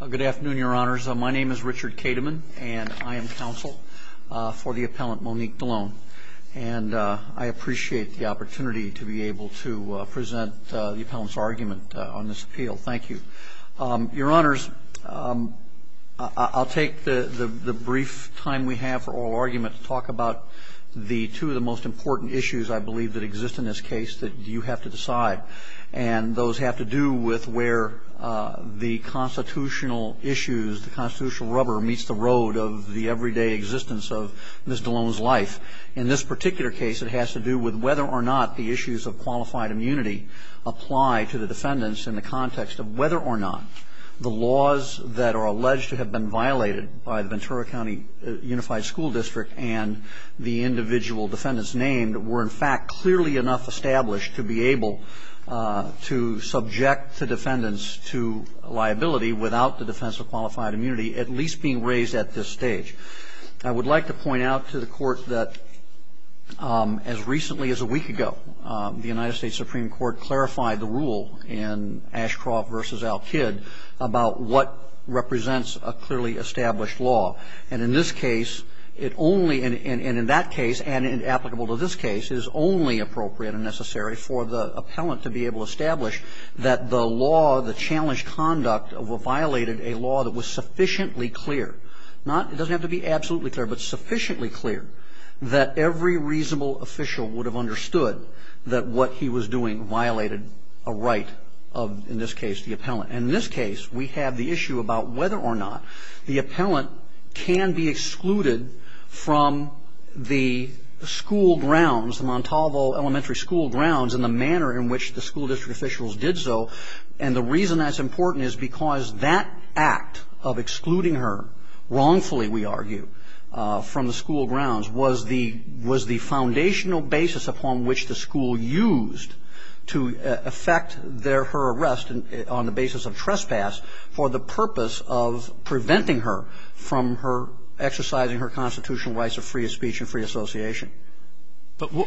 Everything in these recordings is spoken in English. Good afternoon, your honors. My name is Richard Kateman, and I am counsel for the appellant Monique Dollonne. And I appreciate the opportunity to be able to present the appellant's argument on this appeal. Thank you. Your honors, I'll take the brief time we have for oral argument to talk about the two of the most important issues, I believe, that exist in this case that you have to decide. And those have to do with where the constitutional issues, the constitutional rubber meets the road of the everyday existence of Ms. Dollonne's life. In this particular case, it has to do with whether or not the issues of qualified immunity apply to the defendants in the context of whether or not the laws that are alleged to have been violated by the Ventura County Unified School District and the individual defendants named were in fact clearly enough established to be able to subject the defendants to liability without the defense of qualified immunity at least being raised at this stage. I would like to point out to the court that as recently as a week ago, the United States Supreme Court clarified the rule in Ashcroft v. Al-Kid about what represents a clearly established law. And in this case, it only, and in that case, and applicable to this case, it is only appropriate and necessary for the appellant to be able to establish that the law, the challenged conduct violated a law that was sufficiently clear. Not, it doesn't have to be absolutely clear, but sufficiently clear that every reasonable official would have understood that what he was doing violated a right of, in this case, the appellant. And in this case, we have the issue about whether or not the appellant can be excluded from the school grounds, the Montalvo Elementary School grounds in the manner in which the school district officials did so. And the reason that's important is because that act of excluding her, wrongfully we argue, from the school grounds was the foundational basis upon which the school used to effect their, her arrest on the basis of trespass for the purpose of preventing her from her, exercising her constitutional rights of free speech and free association. Counsel,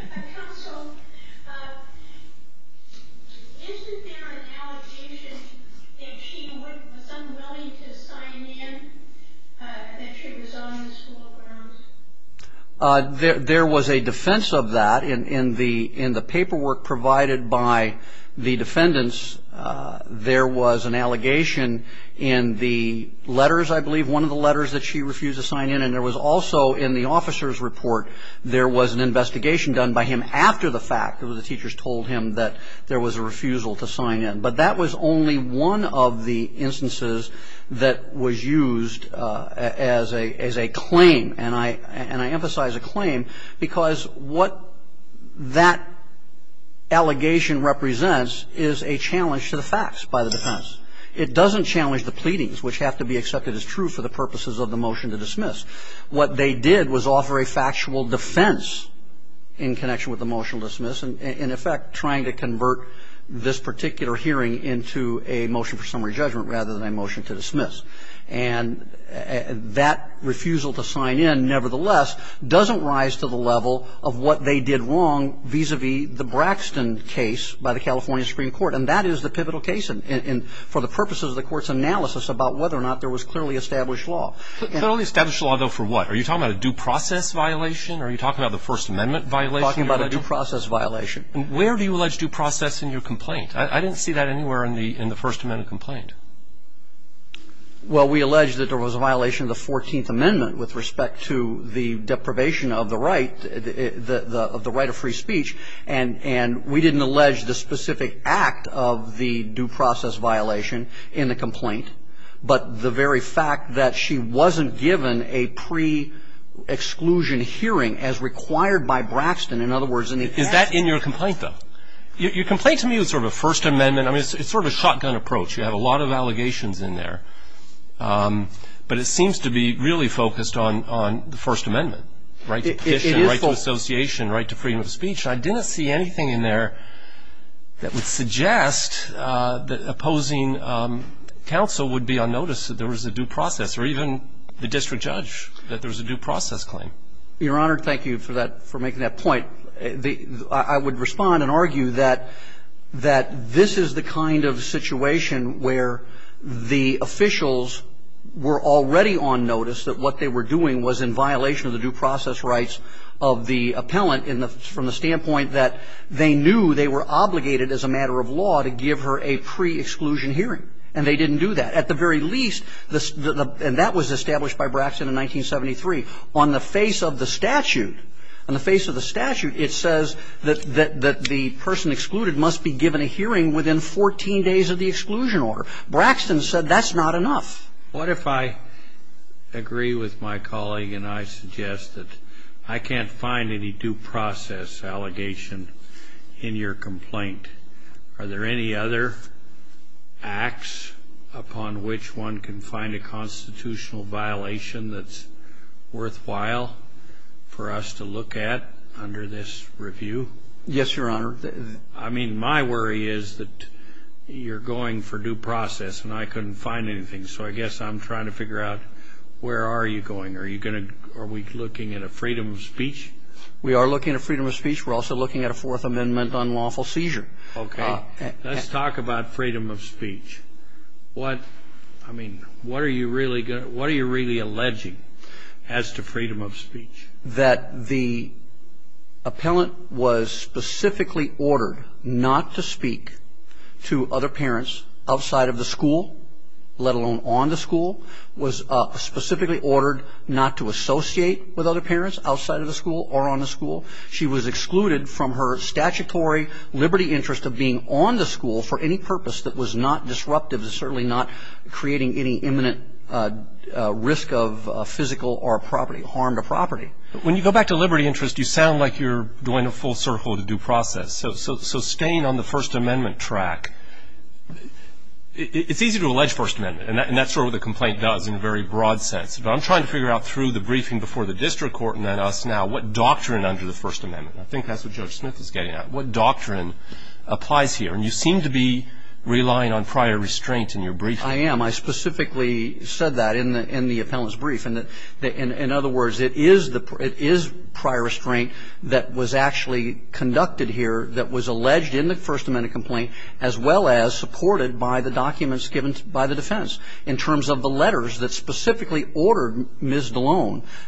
isn't there an allegation that she was unwilling to sign in, that she was on the school grounds? There was a defense of that in the paperwork provided by the defendants. There was an allegation in the letters, I believe, one of the letters that she refused to sign in, and there was also in the officer's report, there was an investigation done by him after the fact, because the teachers told him that there was a refusal to sign in. But that was only one of the instances that was used as a claim. And I emphasize a claim because what that allegation represents is a challenge to the facts by the defendants. It doesn't challenge the pleadings, which have to be accepted as true for the purposes of the motion to dismiss. What they did was offer a factual defense in connection with the motion to dismiss, in effect trying to convert this particular hearing into a motion for summary judgment rather than a motion to dismiss. And that refusal to sign in, nevertheless, doesn't rise to the level of what they did wrong vis-a-vis the Braxton case by the California Supreme Court. And that is the pivotal case for the purposes of the Court's analysis about whether or not there was clearly established law. But only established law, though, for what? Are you talking about a due process violation? Are you talking about the First Amendment violation? I'm talking about a due process violation. Where do you allege due process in your complaint? I didn't see that anywhere in the First Amendment complaint. Well, we allege that there was a violation of the 14th Amendment with respect to the deprivation of the right, of the right of free speech. And we didn't allege the specific act of the due process violation in the complaint, but the very fact that she wasn't given a pre-exclusion hearing as required by Braxton. In other words, in the act. Is that in your complaint, though? Your complaint to me is sort of a First Amendment. I mean, it's sort of a shotgun approach. You have a lot of allegations in there. But it seems to be really focused on the First Amendment, right? Right to petition, right to association, right to freedom of speech. I didn't see anything in there that would suggest that opposing counsel would be on notice that there was a due process, or even the district judge, that there was a due process claim. Your Honor, thank you for that, for making that point. I would respond and argue that this is the kind of situation where the officials were already on notice that what they were doing was in violation of the due process rights of the appellant from the standpoint that they knew they were obligated as a matter of law to give her a pre-exclusion hearing. And they didn't do that. At the very least, and that was established by Braxton in 1973, on the face of the statute, on the face of the statute, it says that the person excluded must be given a hearing within 14 days of the exclusion order. Braxton said that's not enough. What if I agree with my colleague and I suggest that I can't find any due process allegation in your complaint? Are there any other acts upon which one can find a constitutional violation that's worthwhile for us to look at under this review? Yes, Your Honor. I mean, my worry is that you're going for due process and I couldn't find anything. So I guess I'm trying to figure out where are you going. Are you going to ‑‑ are we looking at a freedom of speech? We are looking at freedom of speech. We're also looking at a Fourth Amendment unlawful seizure. Okay. Let's talk about freedom of speech. What, I mean, what are you really alleging as to freedom of speech? I'm alleging that the appellant was specifically ordered not to speak to other parents outside of the school, let alone on the school, was specifically ordered not to associate with other parents outside of the school or on the school. She was excluded from her statutory liberty interest of being on the school for any purpose that was not disruptive and certainly not creating any imminent risk of physical or property, harm to property. When you go back to liberty interest, you sound like you're doing a full circle of the due process. So staying on the First Amendment track, it's easy to allege First Amendment. And that's sort of what the complaint does in a very broad sense. But I'm trying to figure out through the briefing before the district court and then us now what doctrine under the First Amendment, I think that's what Judge Smith is getting at, what doctrine applies here. And you seem to be relying on prior restraint in your briefing. I am. I specifically said that in the appellant's brief. In other words, it is prior restraint that was actually conducted here that was alleged in the First Amendment complaint, as well as supported by the documents given by the defense in terms of the letters that specifically ordered Ms.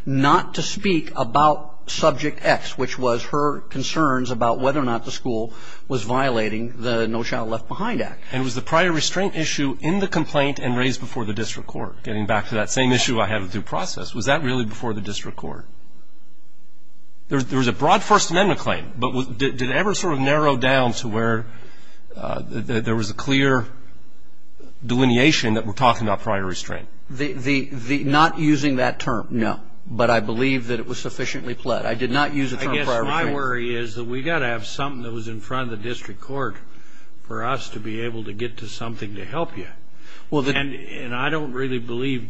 not to speak about subject X, which was her concerns about whether or not the school was violating the No Child Left Behind Act. And was the prior restraint issue in the complaint and raised before the district court? Getting back to that same issue I had with due process, was that really before the district court? There was a broad First Amendment claim. But did it ever sort of narrow down to where there was a clear delineation that we're talking about prior restraint? Not using that term, no. But I believe that it was sufficiently pled. I did not use the term prior restraint. I guess my worry is that we've got to have something that was in front of the district court for us to be able to get to something to help you. And I don't really believe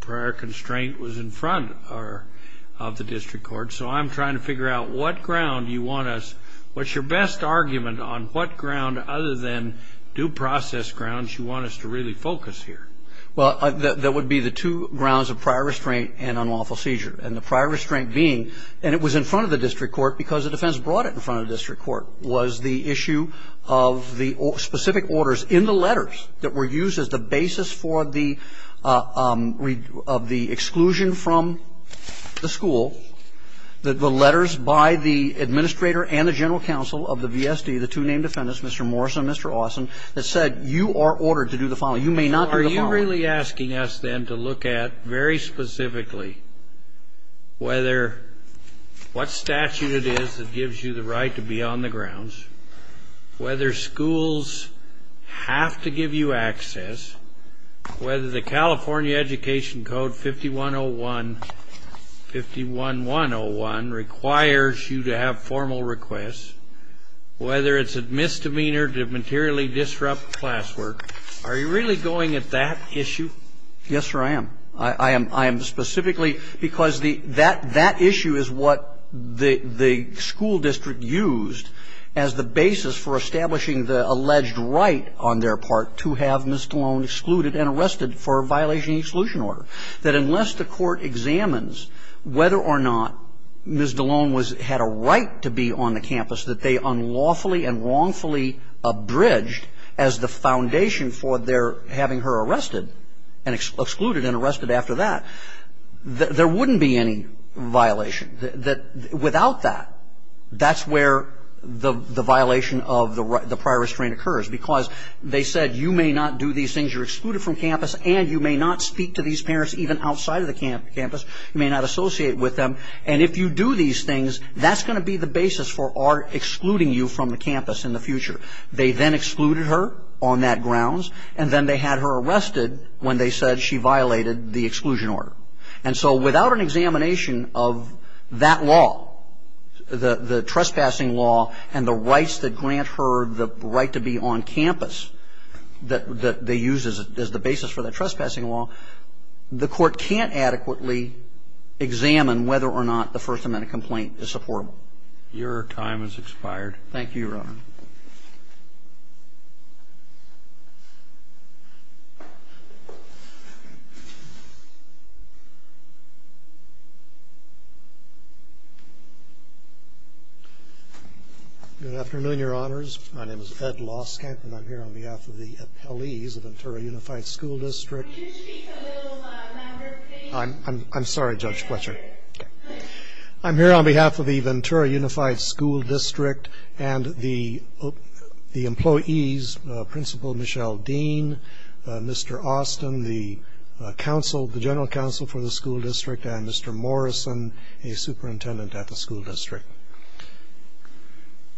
prior constraint was in front of the district court. So I'm trying to figure out what ground you want us, what's your best argument on what ground other than due process grounds you want us to really focus here? Well, that would be the two grounds of prior restraint and unlawful seizure. And the prior restraint being, and it was in front of the district court because the defense brought it in front of the district court, was the issue of the specific orders in the letters that were used as the basis for the exclusion from the school, the letters by the administrator and the general counsel of the VSD, the two named defendants, Mr. Morris and Mr. Austin, that said you are ordered to do the following. You may not do the following. Are you really asking us then to look at very specifically whether what statute it is that gives you the right to be on the grounds, whether schools have to give you access, whether the California Education Code 5101 requires you to have formal requests, whether it's a misdemeanor to materially disrupt classwork, are you really going at that issue? Yes, sir, I am. I am specifically because that issue is what the school district used as the basis for establishing the alleged right on their part to have Ms. DeLone excluded and arrested for a violation of exclusion order, that unless the court examines whether or not Ms. DeLone had a right to be on the campus that they unlawfully and wrongfully abridged as the foundation for their having her arrested and excluded and arrested after that, there wouldn't be any violation. Without that, that's where the violation of the prior restraint occurs, because they said you may not do these things, you're excluded from campus, and you may not speak to these parents even outside of the campus, you may not associate with them, and if you do these things, that's going to be the basis for our excluding you from the campus in the future. They then excluded her on that grounds, and then they had her arrested when they said she violated the exclusion order. And so without an examination of that law, the trespassing law, and the rights that grant her the right to be on campus that they use as the basis for the trespassing law, the court can't adequately examine whether or not the First Amendment complaint is supportable. Your time has expired. Thank you, Your Honor. Thank you. Good afternoon, Your Honors. My name is Ed Loskamp, and I'm here on behalf of the appellees of Ventura Unified School District. Could you speak a little louder, please? I'm sorry, Judge Fletcher. I'm here on behalf of the Ventura Unified School District and the employees, Principal Michelle Dean, Mr. Austin, the general counsel for the school district, and Mr. Morrison, a superintendent at the school district.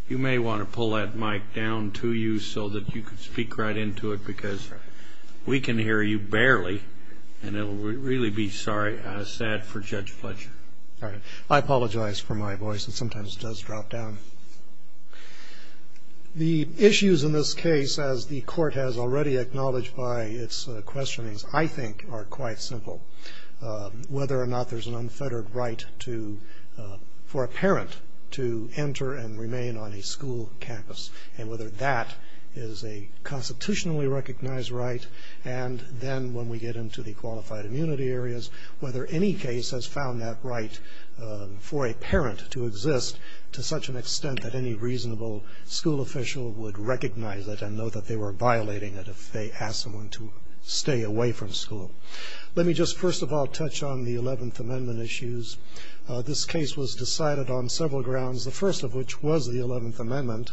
You may want to pull that mic down to you so that you can speak right into it because we can hear you barely, and it will really be sad for Judge Fletcher. All right. I apologize for my voice. It sometimes does drop down. The issues in this case, as the court has already acknowledged by its questionings, I think are quite simple. Whether or not there's an unfettered right for a parent to enter and remain on a school campus and whether that is a constitutionally recognized right, and then when we get into the qualified immunity areas, whether any case has found that right for a parent to exist to such an extent that any reasonable school official would recognize it and know that they weren't violating it if they asked someone to stay away from school. Let me just first of all touch on the Eleventh Amendment issues. This case was decided on several grounds, the first of which was the Eleventh Amendment.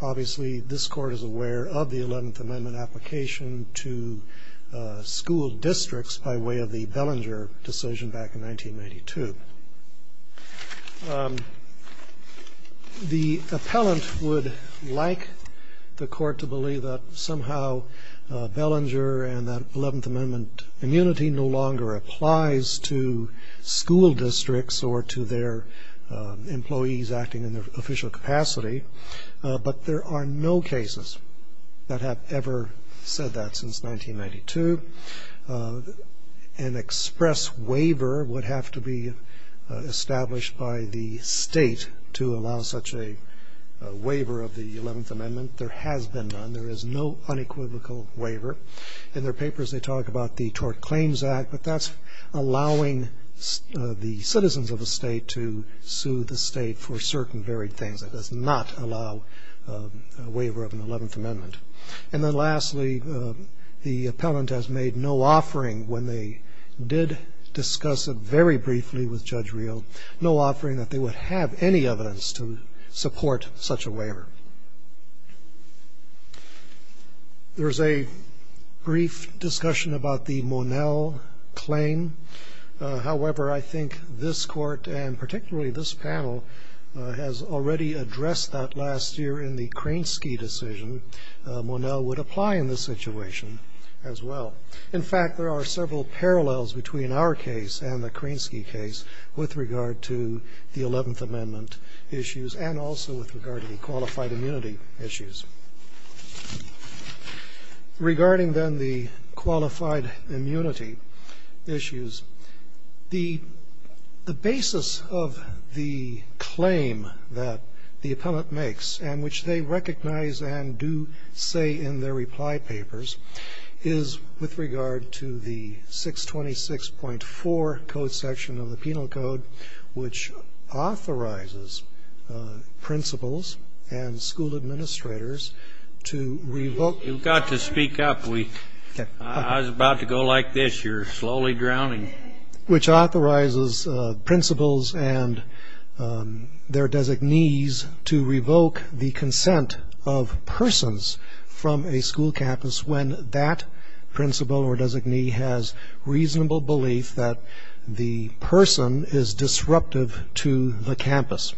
Obviously, this court is aware of the Eleventh Amendment application to school districts by way of the Bellinger decision back in 1992. The appellant would like the court to believe that somehow Bellinger and that Eleventh Amendment immunity no longer applies to school districts or to their employees acting in their official capacity, but there are no cases that have ever said that since 1992. An express waiver would have to be established by the state to allow such a waiver of the Eleventh Amendment. There has been none. There is no unequivocal waiver. In their papers, they talk about the Tort Claims Act, but that's allowing the citizens of the state to sue the state for certain varied things. It does not allow a waiver of an Eleventh Amendment. And then lastly, the appellant has made no offering when they did discuss it very briefly with Judge Reel, no offering that they would have any evidence to support such a waiver. There is a brief discussion about the Monell claim. However, I think this court, and particularly this panel, has already addressed that last year in the Krinsky decision. Monell would apply in this situation as well. In fact, there are several parallels between our case and the Krinsky case with regard to the Eleventh Amendment issues and also with regard to the qualified immunity issues. Regarding, then, the qualified immunity issues, the basis of the claim that the appellant makes and which they recognize and do say in their reply papers is, with regard to the 626.4 code section of the Penal Code, which authorizes principals and school administrators to revoke. You've got to speak up. I was about to go like this. You're slowly drowning. Which authorizes principals and their designees to revoke the consent of persons from a school campus when that principal or designee has reasonable belief that the person is disruptive to the campus.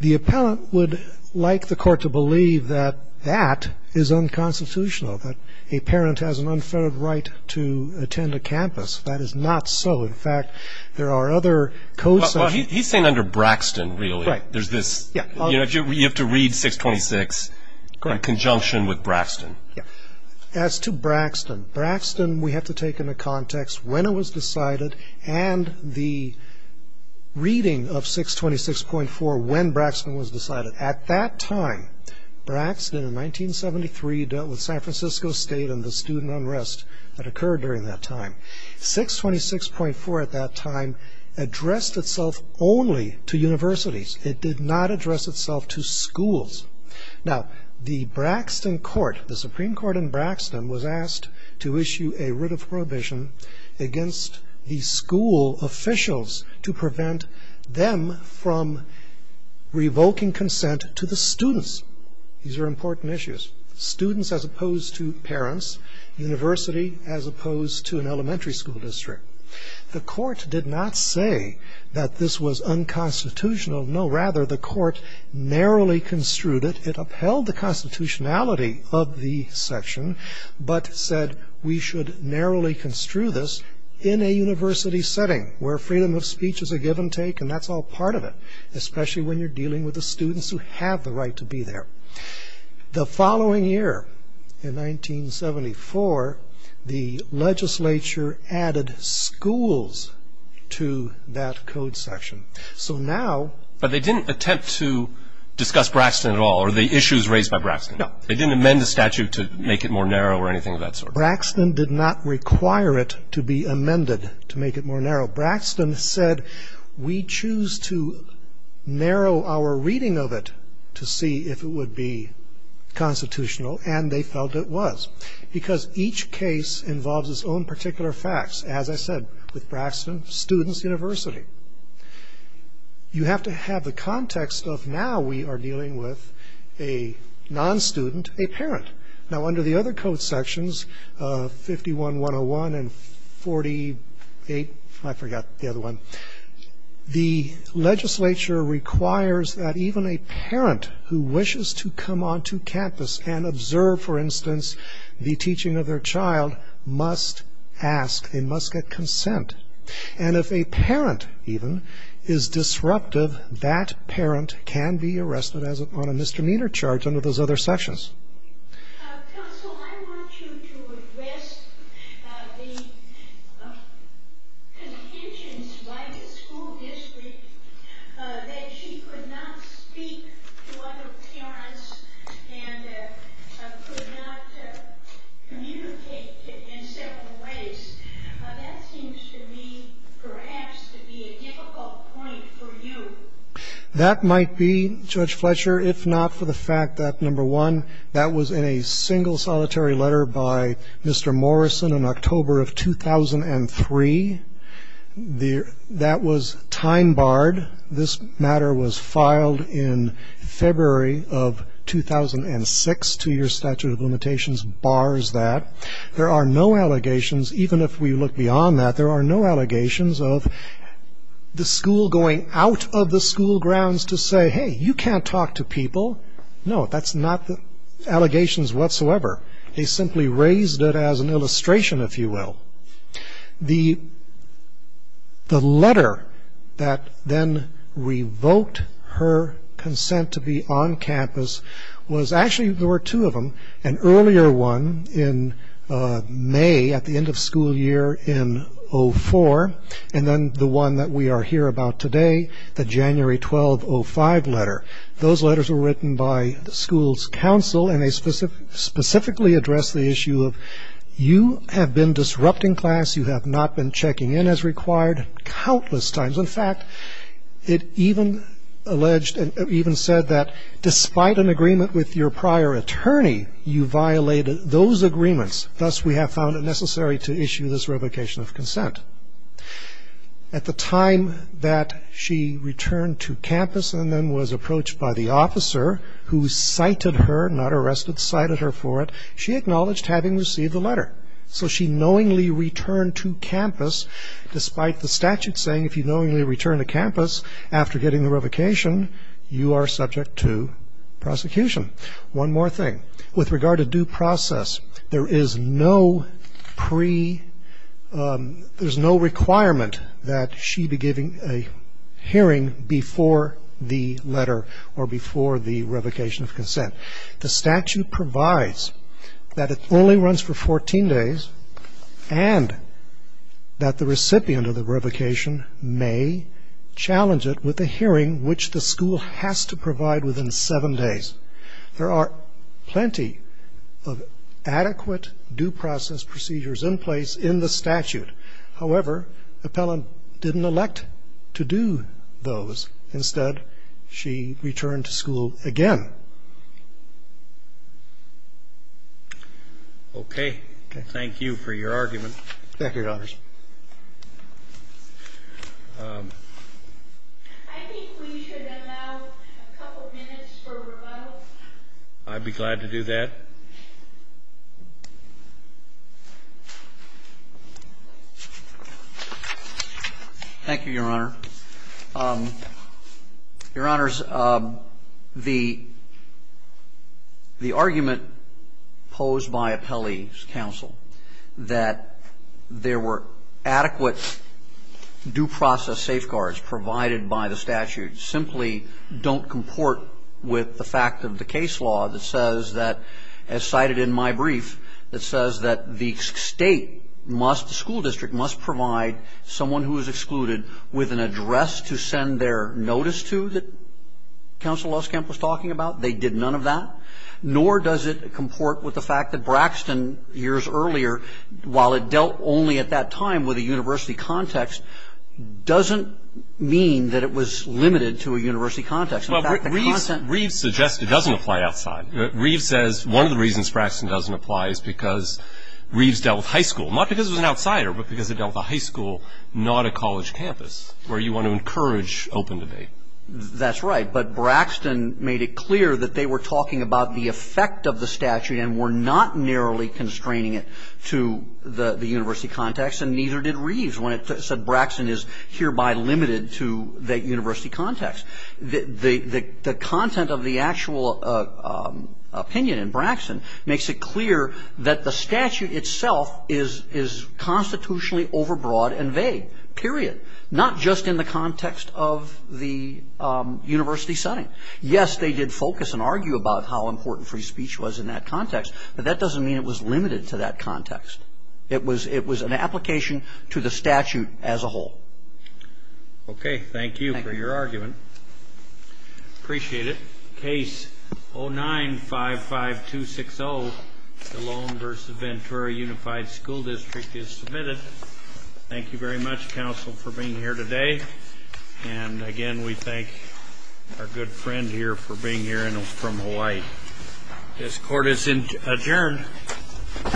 The appellant would like the court to believe that that is unconstitutional, that a parent has an unfettered right to attend a campus. That is not so. In fact, there are other code sections. Well, he's saying under Braxton, really. Right. There's this. Yeah. You have to read 626 in conjunction with Braxton. Yeah. As to Braxton, Braxton we have to take into context when it was decided and the reading of 626.4 when Braxton was decided. At that time, Braxton in 1973 dealt with San Francisco State and the student unrest that occurred during that time. 626.4 at that time addressed itself only to universities. It did not address itself to schools. Now, the Braxton court, the Supreme Court in Braxton, was asked to issue a writ of prohibition against the school officials to prevent them from revoking consent to the students. These are important issues. Students as opposed to parents, university as opposed to an elementary school district. The court did not say that this was unconstitutional. No, rather the court narrowly construed it. It upheld the constitutionality of the section, but said we should narrowly construe this in a university setting where freedom of speech is a give and take, and that's all part of it, especially when you're dealing with the students who have the right to be there. The following year, in 1974, the legislature added schools to that code section. So now... But they didn't attempt to discuss Braxton at all or the issues raised by Braxton? No. They didn't amend the statute to make it more narrow or anything of that sort? Braxton did not require it to be amended to make it more narrow. Braxton said we choose to narrow our reading of it to see if it would be constitutional, and they felt it was because each case involves its own particular facts. As I said, with Braxton, students, university. You have to have the context of now we are dealing with a non-student, a parent. Now, under the other code sections, 51-101 and 48... I forgot the other one. The legislature requires that even a parent who wishes to come onto campus and observe, for instance, the teaching of their child, must ask. They must get consent. And if a parent, even, is disruptive, that parent can be arrested on a misdemeanor charge under those other sections. Counsel, I want you to address the contentions by the school district that she could not speak to other parents and could not communicate in several ways. That seems to me perhaps to be a difficult point for you. That might be, Judge Fletcher, if not for the fact that, number one, that was in a single solitary letter by Mr. Morrison in October of 2003. That was time-barred. This matter was filed in February of 2006. Two-year statute of limitations bars that. There are no allegations, even if we look beyond that, there are no allegations of the school going out of the school grounds to say, Hey, you can't talk to people. No, that's not allegations whatsoever. They simply raised it as an illustration, if you will. The letter that then revoked her consent to be on campus was... May, at the end of school year in 04, and then the one that we are here about today, the January 12, 05 letter. Those letters were written by the school's counsel, and they specifically addressed the issue of you have been disrupting class, you have not been checking in as required countless times. In fact, it even alleged and even said that despite an agreement with your prior attorney, you violated those agreements. Thus, we have found it necessary to issue this revocation of consent. At the time that she returned to campus and then was approached by the officer who cited her, not arrested, cited her for it, she acknowledged having received the letter. So she knowingly returned to campus, despite the statute saying if you knowingly return to campus after getting the revocation, you are subject to prosecution. One more thing. With regard to due process, there is no requirement that she be giving a hearing before the letter or before the revocation of consent. The statute provides that it only runs for 14 days and that the recipient of the revocation may challenge it with a hearing which the school has to provide within seven days. There are plenty of adequate due process procedures in place in the statute. However, Appellant didn't elect to do those. Instead, she returned to school again. Roberts. Thank you for your argument. Roberts. I think we should allow a couple minutes for rebuttal. I'd be glad to do that. Thank you, Your Honor. Your Honors, the argument posed by Appellee's counsel that there were adequate due process safeguards provided by the statute simply don't comport with the fact of the case law that says that, as cited in my brief, that says that the school district must provide someone who is excluded with an address to send their notice to that Counsel Loskamp was talking about. They did none of that. Nor does it comport with the fact that Braxton, years earlier, while it dealt only at that time with a university context, doesn't mean that it was limited to a university context. In fact, the content of the statute does not apply outside. Reeves says one of the reasons Braxton doesn't apply is because Reeves dealt with high school, not because it was an outsider, but because it dealt with a high school, not a college campus, where you want to encourage open debate. That's right. But Braxton made it clear that they were talking about the effect of the statute and were not narrowly constraining it to the university context, and neither did Reeves when it said Braxton is hereby limited to that university context. The content of the actual opinion in Braxton makes it clear that the statute itself is constitutionally overbroad and vague, period, not just in the context of the university setting. Yes, they did focus and argue about how important free speech was in that context, but that doesn't mean it was limited to that context. It was an application to the statute as a whole. Okay. Thank you for your argument. Thank you. Appreciate it. Case 09-55260, the Lone versus Ventura Unified School District is submitted. Thank you very much, counsel, for being here today. And, again, we thank our good friend here for being here and from Hawaii. This court is adjourned. All rise. This court is adjourned.